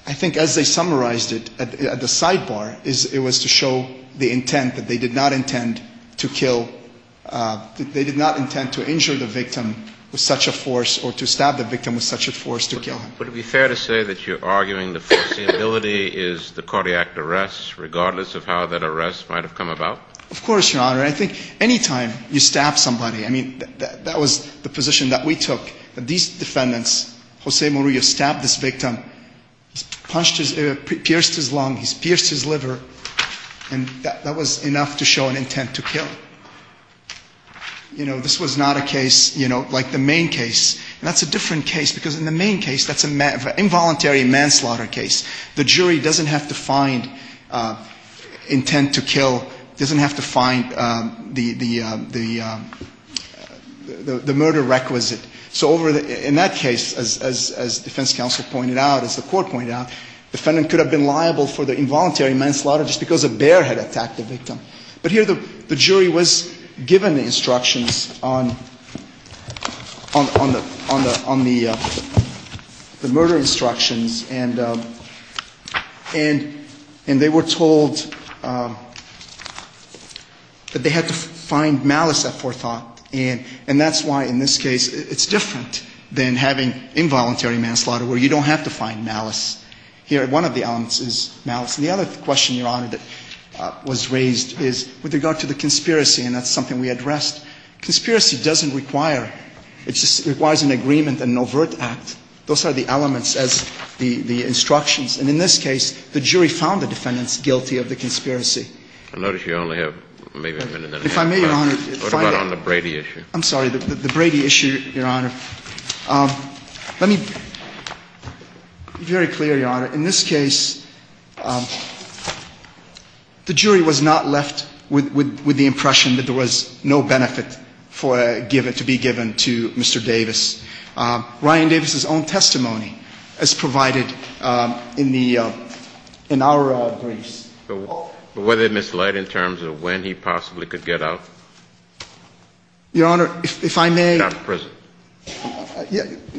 I think as they summarized it at the sidebar, it was to show the intent that they did not intend to kill, they did not intend to injure the victim with such a force or to stab the victim with such a force to kill him. Would it be fair to say that you're arguing the foreseeability is the cardiac arrest, regardless of how that arrest might have come about? Of course, Your Honor. I think any time you stab somebody, I mean, that was the position that we took, that these defendants, Jose Murillo stabbed this victim, he's punched his ear, pierced his lung, he's pierced his liver, and that was enough to show an intent to kill. You know, this was not a case, you know, like the main case, and that's a different case because in the main case, that's an involuntary manslaughter case. The jury doesn't have to find intent to kill, doesn't have to find the murder requisite. So in that case, as defense counsel pointed out, as the court pointed out, the defendant could have been liable for the involuntary manslaughter just because a bear had attacked the victim. But here, the jury was given instructions on the murder instructions, and they were told that they had to find malice at forethought. And that's why in this case, it's different than having involuntary manslaughter, where you don't have to find malice. Here, one of the elements is malice. And the other question, Your Honor, that was raised is with regard to the conspiracy, and that's something we addressed. Conspiracy doesn't require, it just requires an agreement and an overt act. Those are the elements as the instructions. And in this case, the jury found the defendants guilty of the conspiracy. I notice you only have maybe a minute and a half left. If I may, Your Honor, if I may. What about on the Brady issue? I'm sorry, the Brady issue, Your Honor. Let me be very clear, Your Honor. In this case, the jury was not left with the impression that there was no benefit to be given to Mr. Davis. Ryan Davis's own testimony is provided in our briefs. But was it misled in terms of when he possibly could get out? Your Honor, if I may. He's not present.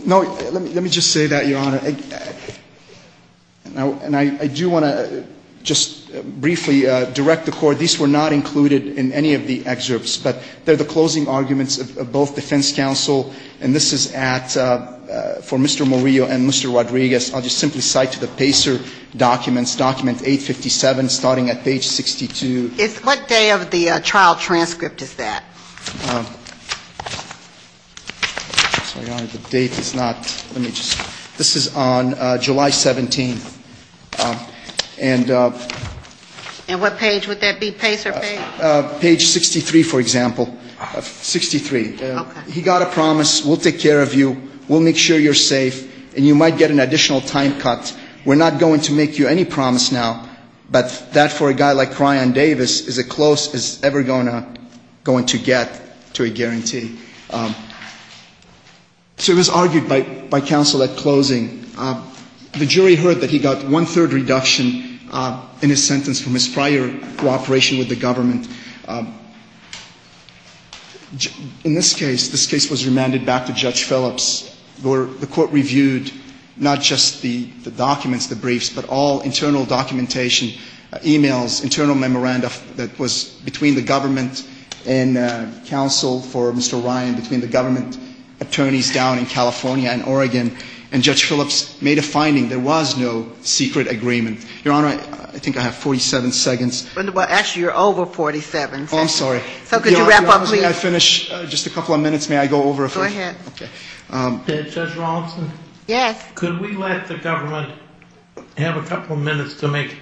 No, let me just say that, Your Honor. And I do want to just briefly direct the Court. These were not included in any of the excerpts. But they're the closing arguments of both defense counsel. And this is for Mr. Morillo and Mr. Rodriguez. I'll just simply cite the Pacer documents, document 857, starting at page 62. What day of the trial transcript is that? Sorry, Your Honor, the date is not. Let me just. This is on July 17th. And what page would that be, Pacer page? Page 63, for example, 63. Okay. He got a promise, we'll take care of you, we'll make sure you're safe, and you might get an additional time cut. We're not going to make you any promise now. But that, for a guy like Ryan Davis, is as close as it's ever going to get. To a guarantee. So it was argued by counsel at closing. The jury heard that he got one-third reduction in his sentence from his prior cooperation with the government. In this case, this case was remanded back to Judge Phillips. The Court reviewed not just the documents, the briefs, but all internal documentation, emails, internal memoranda that was between the government and counsel for Mr. Ryan, between the government attorneys down in California and Oregon. And Judge Phillips made a finding. There was no secret agreement. Your Honor, I think I have 47 seconds. Well, actually, you're over 47 seconds. Oh, I'm sorry. So could you wrap up, please? Your Honor, may I finish just a couple of minutes? May I go over a few? Go ahead. Judge Robinson? Yes. Could we let the government have a couple of minutes to make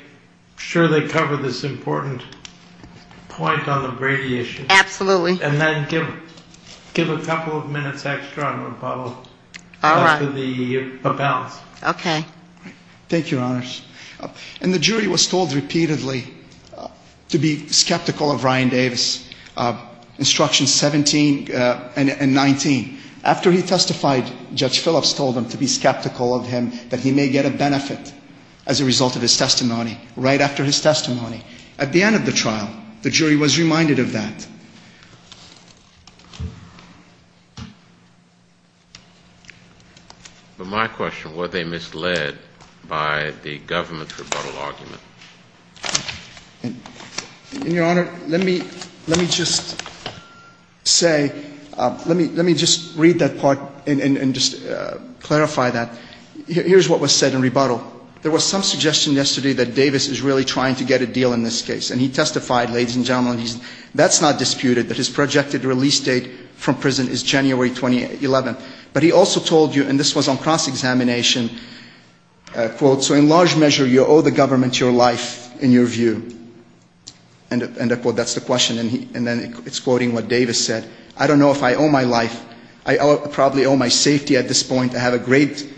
sure they cover this important point on the Brady issue? Absolutely. And then give a couple of minutes extra, I'm going to follow up. All right. After the balance. Okay. Thank you, Your Honors. And the jury was told repeatedly to be skeptical of Ryan Davis, instructions 17 and 19. After he testified, Judge Phillips told them to be skeptical of him, that he may get a benefit as a result of his testimony, right after his testimony. At the end of the trial, the jury was reminded of that. But my question, were they misled by the government's rebuttal argument? Your Honor, let me just say, let me just read that part and just clarify that. Here's what was said in rebuttal. There was some suggestion yesterday that Davis is really trying to get a deal in this case. And he testified, ladies and gentlemen, that's not disputed, that his projected release date from prison is January 2011. But he also told you, and this was on cross-examination, quote, so in large measure, you owe the government your life, in your view. And I quote, that's the question, and then it's quoting what Davis said, I don't know if I owe my life, I probably owe my safety at this point. I have a great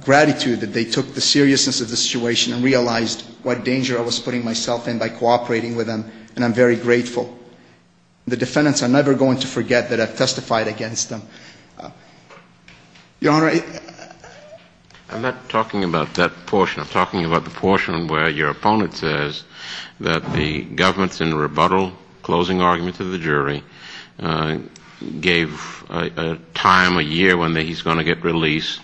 gratitude that they took the seriousness of the situation and realized what danger I was putting myself in by cooperating with them, and I'm very grateful. The defendants are never going to forget that I testified against them. Your Honor, I'm not talking about that portion. I'm talking about the portion where your opponent says that the government's in rebuttal, closing argument to the jury, gave a time, a year, when he's going to get released,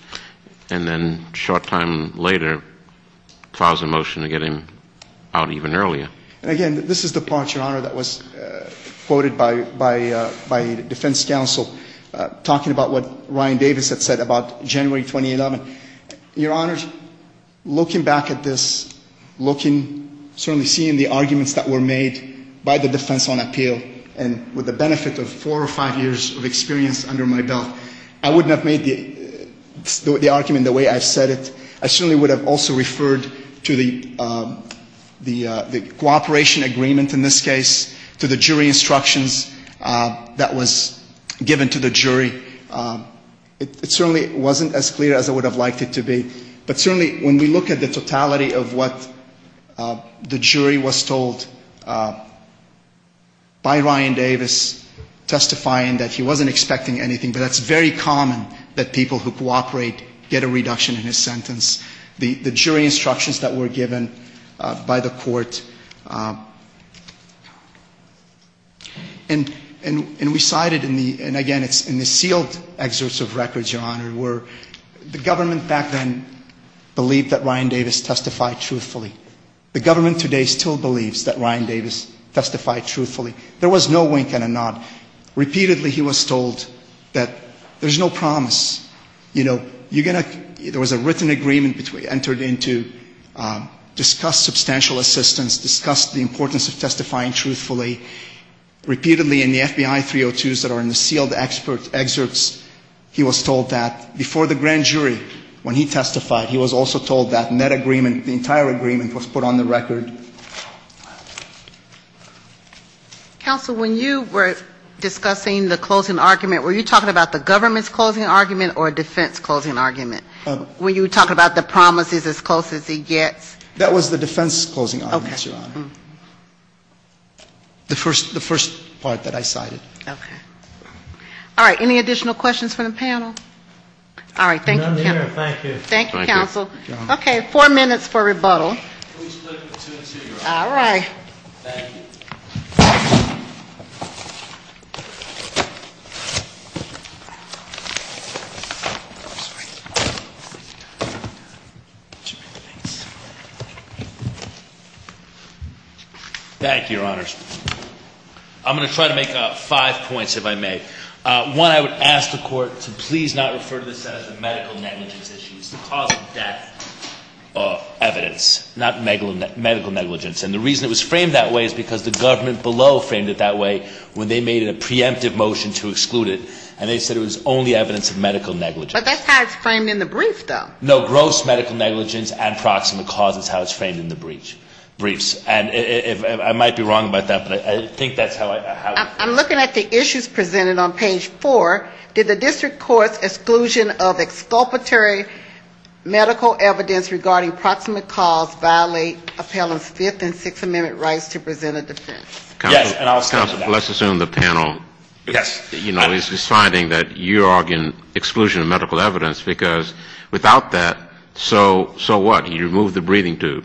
and then a short time later, files a motion to get him out even earlier. And again, this is the part, Your Honor, that was quoted by defense counsel, talking about what Ryan Davis had said about January 2011. Your Honor, looking back at this, looking, certainly seeing the arguments that were made by the defense on appeal, and with the benefit of four or five years of experience under my belt, I wouldn't have made the argument the way I've said it. I certainly would have also referred to the cooperation agreement in this case, to the jury instructions that was given to the jury. It certainly wasn't as clear as I would have liked it to be, but certainly when we look at the totality of what the jury was told by Ryan Davis testifying that he wasn't expecting anything, but that's very common that people who cooperate get a reduction in his sentence. The jury instructions that were given by the court, and we cited, and again, it's in the sealed excerpts of records, Your Honor, where the government back then believed that Ryan Davis testified truthfully. The government today still believes that Ryan Davis testified truthfully. There was no wink and a nod. Repeatedly he was told that there's no promise, you know, you're going to, there was a written agreement entered into, discussed substantial assistance, discussed the importance of testifying truthfully. Repeatedly in the FBI 302s that are in the sealed excerpts, he was told that. Before the grand jury, when he testified, he was also told that, and that agreement, the entire agreement was put on the record. Counsel, when you were discussing the closing argument, were you talking about the government's closing argument or defense's closing argument? Were you talking about the promises as close as he gets? That was the defense's closing argument, Your Honor. The first part that I cited. Okay. All right. Any additional questions from the panel? All right. Thank you, Counsel. Okay. Four minutes for rebuttal. All right. Thank you. Thank you, Your Honors. I'm going to try to make up five points, if I may. One, I would ask the Court to please not refer to this as a medical negligence issue. It's the cause of death evidence, not medical negligence. And the reason it was framed that way is because the government below framed it that way when they made a preemptive motion to exclude it. And they said it was only evidence of medical negligence. But that's how it's framed in the brief, though. No, gross medical negligence and proximate cause is how it's framed in the briefs. And I might be wrong about that, but I think that's how it's framed. I'm looking at the issues presented on page four. Did the district court's exclusion of exculpatory medical evidence regarding proximate cause violate appellant's Fifth and Sixth Amendment rights to present a defense? Yes, and I was talking about that. Counsel, let's assume the panel, you know, is deciding that you are arguing exclusion of medical evidence, because without that, so what? You remove the breathing tube.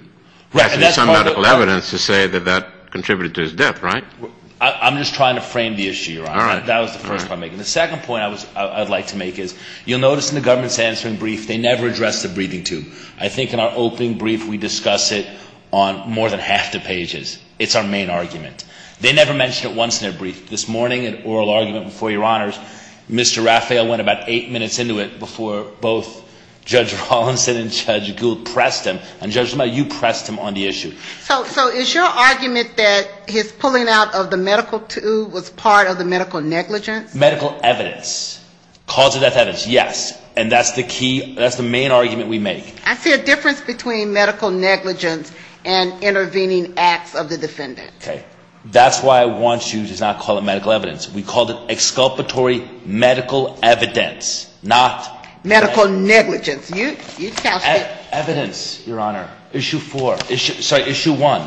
That's some medical evidence to say that that contributed to his death, right? I'm just trying to frame the issue, Your Honor. All right. That was the first point I'm making. The second point I'd like to make is you'll notice in the government's answering brief they never address the breathing tube. I think in our opening brief we discuss it on more than half the pages. It's our main argument. They never mention it once in their brief. This morning, an oral argument before Your Honors, Mr. Raphael went about eight minutes into it before both Judge Rawlinson and Judge Gould pressed him. And, Judge Lamont, you pressed him on the issue. So is your argument that his pulling out of the medical tube was part of the medical negligence? Medical evidence. Cause of death evidence, yes. And that's the key. That's the main argument we make. I see a difference between medical negligence and intervening acts of the defendant. Okay. That's why I want you to not call it medical evidence. We called it exculpatory medical evidence, not medical negligence. Evidence, Your Honor. Issue four. Sorry, issue one.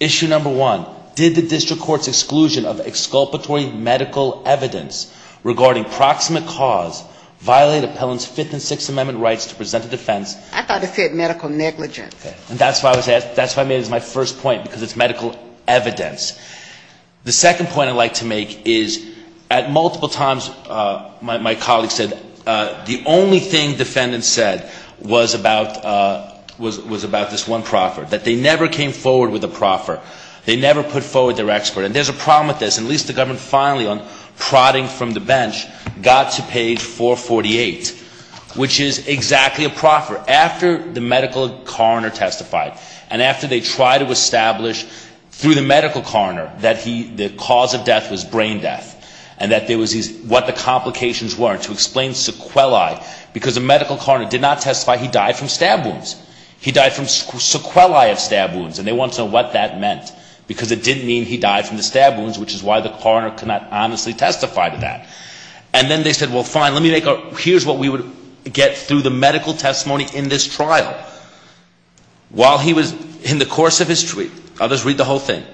Issue number one. Did the district court's exclusion of exculpatory medical evidence regarding proximate cause violate appellant's Fifth and Sixth Amendment rights to present a defense? I thought it said medical negligence. Okay. And that's why I made it as my first point because it's medical evidence. The second point I'd like to make is at multiple times my colleagues said the only thing defendants said was about this one proffer. That they never came forward with a proffer. They never put forward their expert. And there's a problem with this. At least the government finally on prodding from the bench got to page 448, which is exactly a proffer. After the medical coroner testified and after they tried to establish through the medical coroner that the cause of death was brain death and that there was what the complications were, to explain sequelae because the medical coroner did not testify he died from stab wounds. He died from sequelae of stab wounds. And they want to know what that meant because it didn't mean he died from the stab wounds, which is why the coroner could not honestly testify to that. And then they said, well, fine, let me make a, here's what we would get through the medical testimony in this trial. While he was, in the course of his treatment, I'll just read the whole thing.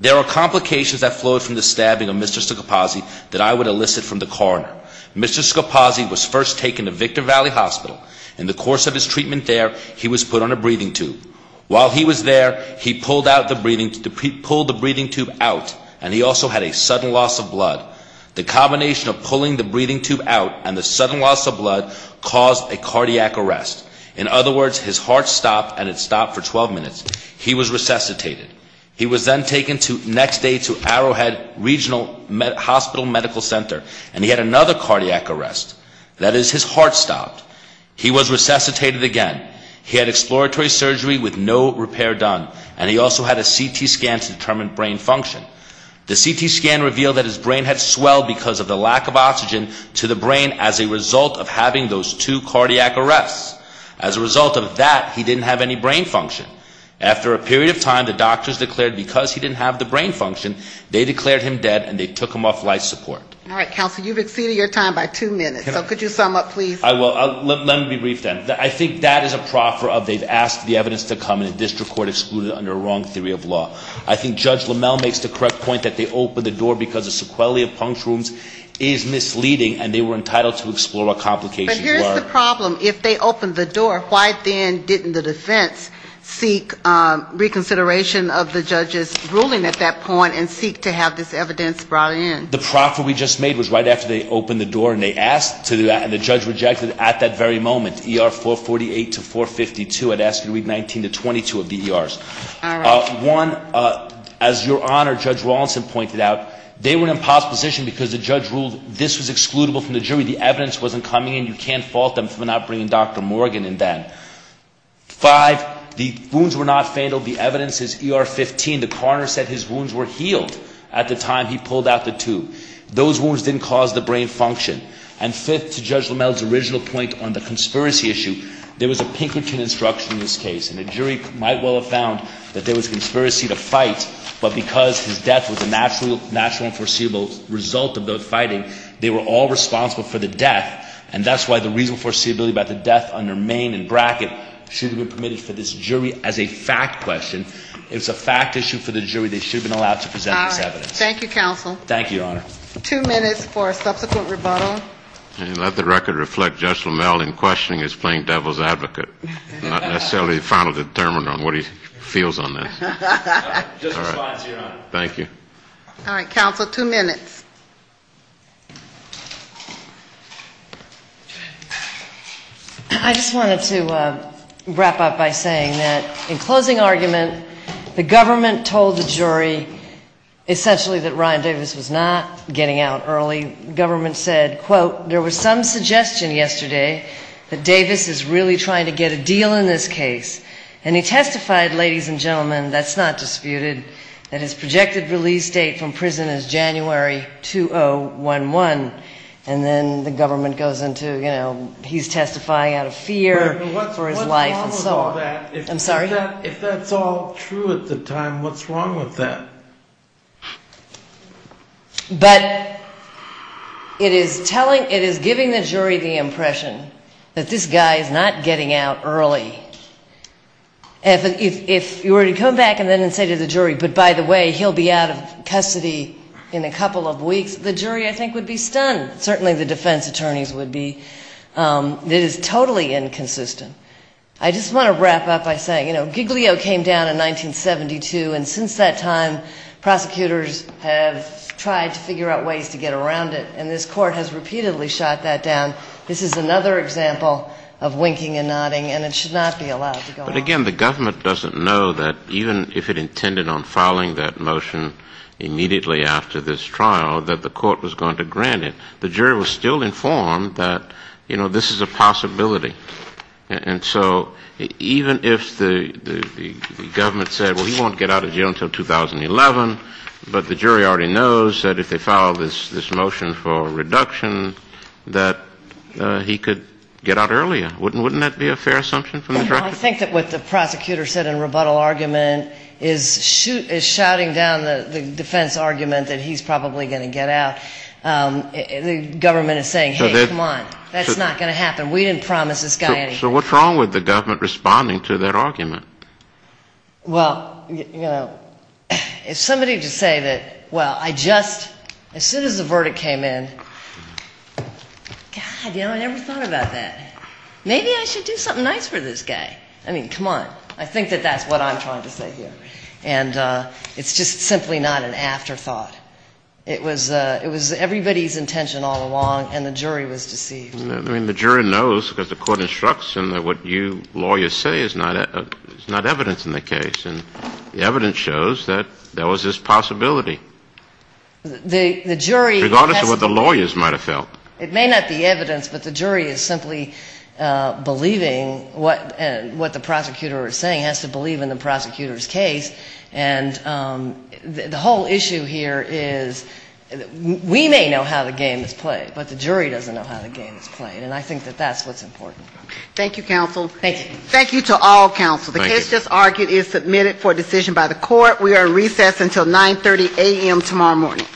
There are complications that flowed from the stabbing of Mr. Scopazzi that I would elicit from the coroner. Mr. Scopazzi was first taken to Victor Valley Hospital. In the course of his treatment there, he was put on a breathing tube. While he was there, he pulled the breathing tube out and he also had a sudden loss of blood. The combination of pulling the breathing tube out and the sudden loss of blood caused a cardiac arrest. In other words, his heart stopped and it stopped for 12 minutes. He was resuscitated. He was then taken next day to Arrowhead Regional Hospital Medical Center and he had another cardiac arrest. That is, his heart stopped. He was resuscitated again. He had exploratory surgery with no repair done. And he also had a CT scan to determine brain function. The CT scan revealed that his brain had swelled because of the lack of oxygen to the brain as a result of having those two cardiac arrests. As a result of that, he didn't have any brain function. After a period of time, the doctors declared because he didn't have the brain function, they declared him dead and they took him off life support. All right, counsel. You've exceeded your time by two minutes, so could you sum up, please? I will. Let me be brief then. I think that is a proffer of they've asked the evidence to come in a district court excluded under a wrong theory of law. I think Judge Lamell makes the correct point that they opened the door because the sequelae of puncture wounds is misleading and they were entitled to explore what complications were. But here's the problem. If they opened the door, why then didn't the defense seek reconsideration of the judge's ruling at that point and seek to have this evidence brought in? The proffer we just made was right after they opened the door and they asked to do that and the judge rejected at that very moment, ER 448 to 452. It asked to read 19 to 22 of the ERs. All right. One, as Your Honor, Judge Rawlinson pointed out, they were in an impasse position because the judge ruled this was excludable from the jury. The evidence wasn't coming in. You can't fault them for not bringing Dr. Morgan in then. Five, the wounds were not fatal. The evidence is ER 15. The coroner said his wounds were healed at the time he pulled out the tube. Those wounds didn't cause the brain function. And fifth, to Judge Lamell's original point on the conspiracy issue, there was a Pinkerton instruction in this case. And the jury might well have found that there was a conspiracy to fight, but because his death was a natural and foreseeable result of those fighting, they were all responsible for the death, and that's why the reasonable foreseeability about the death under Maine and Brackett should have been permitted for this jury as a fact question. If it's a fact issue for the jury, they should have been allowed to present this evidence. All right. Thank you, counsel. Thank you, Your Honor. Two minutes for subsequent rebuttal. Let the record reflect Judge Lamell in questioning his plain devil's advocate, not necessarily the final determinant on what he feels on this. Just a response, Your Honor. Thank you. All right. Counsel, two minutes. I just wanted to wrap up by saying that in closing argument, the government told the jury essentially that Ryan Davis was not getting out early. The government said, quote, there was some suggestion yesterday that Davis is really trying to get a deal in this case, and he testified, ladies and gentlemen, that's not disputed, that his projected release date from prison is January 2011, and then the government goes into, you know, he's testifying out of fear for his life. I'm sorry? If that's all true at the time, what's wrong with that? But it is giving the jury the impression that this guy is not getting out early. If you were to come back and then say to the jury, but by the way, he'll be out of custody in a couple of weeks, the jury, I think, would be stunned. Certainly the defense attorneys would be. It is totally inconsistent. I just want to wrap up by saying, you know, Giglio came down in 1972, and since that time, prosecutors have tried to figure out ways to get around it, and this court has repeatedly shot that down. This is another example of winking and nodding, and it should not be allowed to go on. But, again, the government doesn't know that even if it intended on filing that motion immediately after this trial, that the court was going to grant it. The jury was still informed that, you know, this is a possibility. And so even if the government said, well, he won't get out of jail until 2011, but the jury already knows that if they file this motion for reduction that he could get out earlier, wouldn't that be a fair assumption from the director? Well, I think that what the prosecutor said in rebuttal argument is shouting down the defense argument that he's probably going to get out. The government is saying, hey, come on, that's not going to happen. We didn't promise this guy anything. So what's wrong with the government responding to that argument? Well, you know, if somebody could say that, well, I just, as soon as the verdict came in, God, you know, I never thought about that. Maybe I should do something nice for this guy. I mean, come on. I think that that's what I'm trying to say here. And it's just simply not an afterthought. It was everybody's intention all along, and the jury was deceived. I mean, the jury knows because the court instructs them that what you lawyers say is not evidence in the case, and the evidence shows that there was this possibility, regardless of what the lawyers might have felt. It may not be evidence, but the jury is simply believing what the prosecutor is saying, has to believe in the prosecutor's case, and the whole issue here is we may know how the game is played, but the jury doesn't know how the game is played. And I think that that's what's important. Thank you, counsel. Thank you. Thank you to all counsel. The case just argued is submitted for decision by the court. We are in recess until 9.30 a.m. tomorrow morning.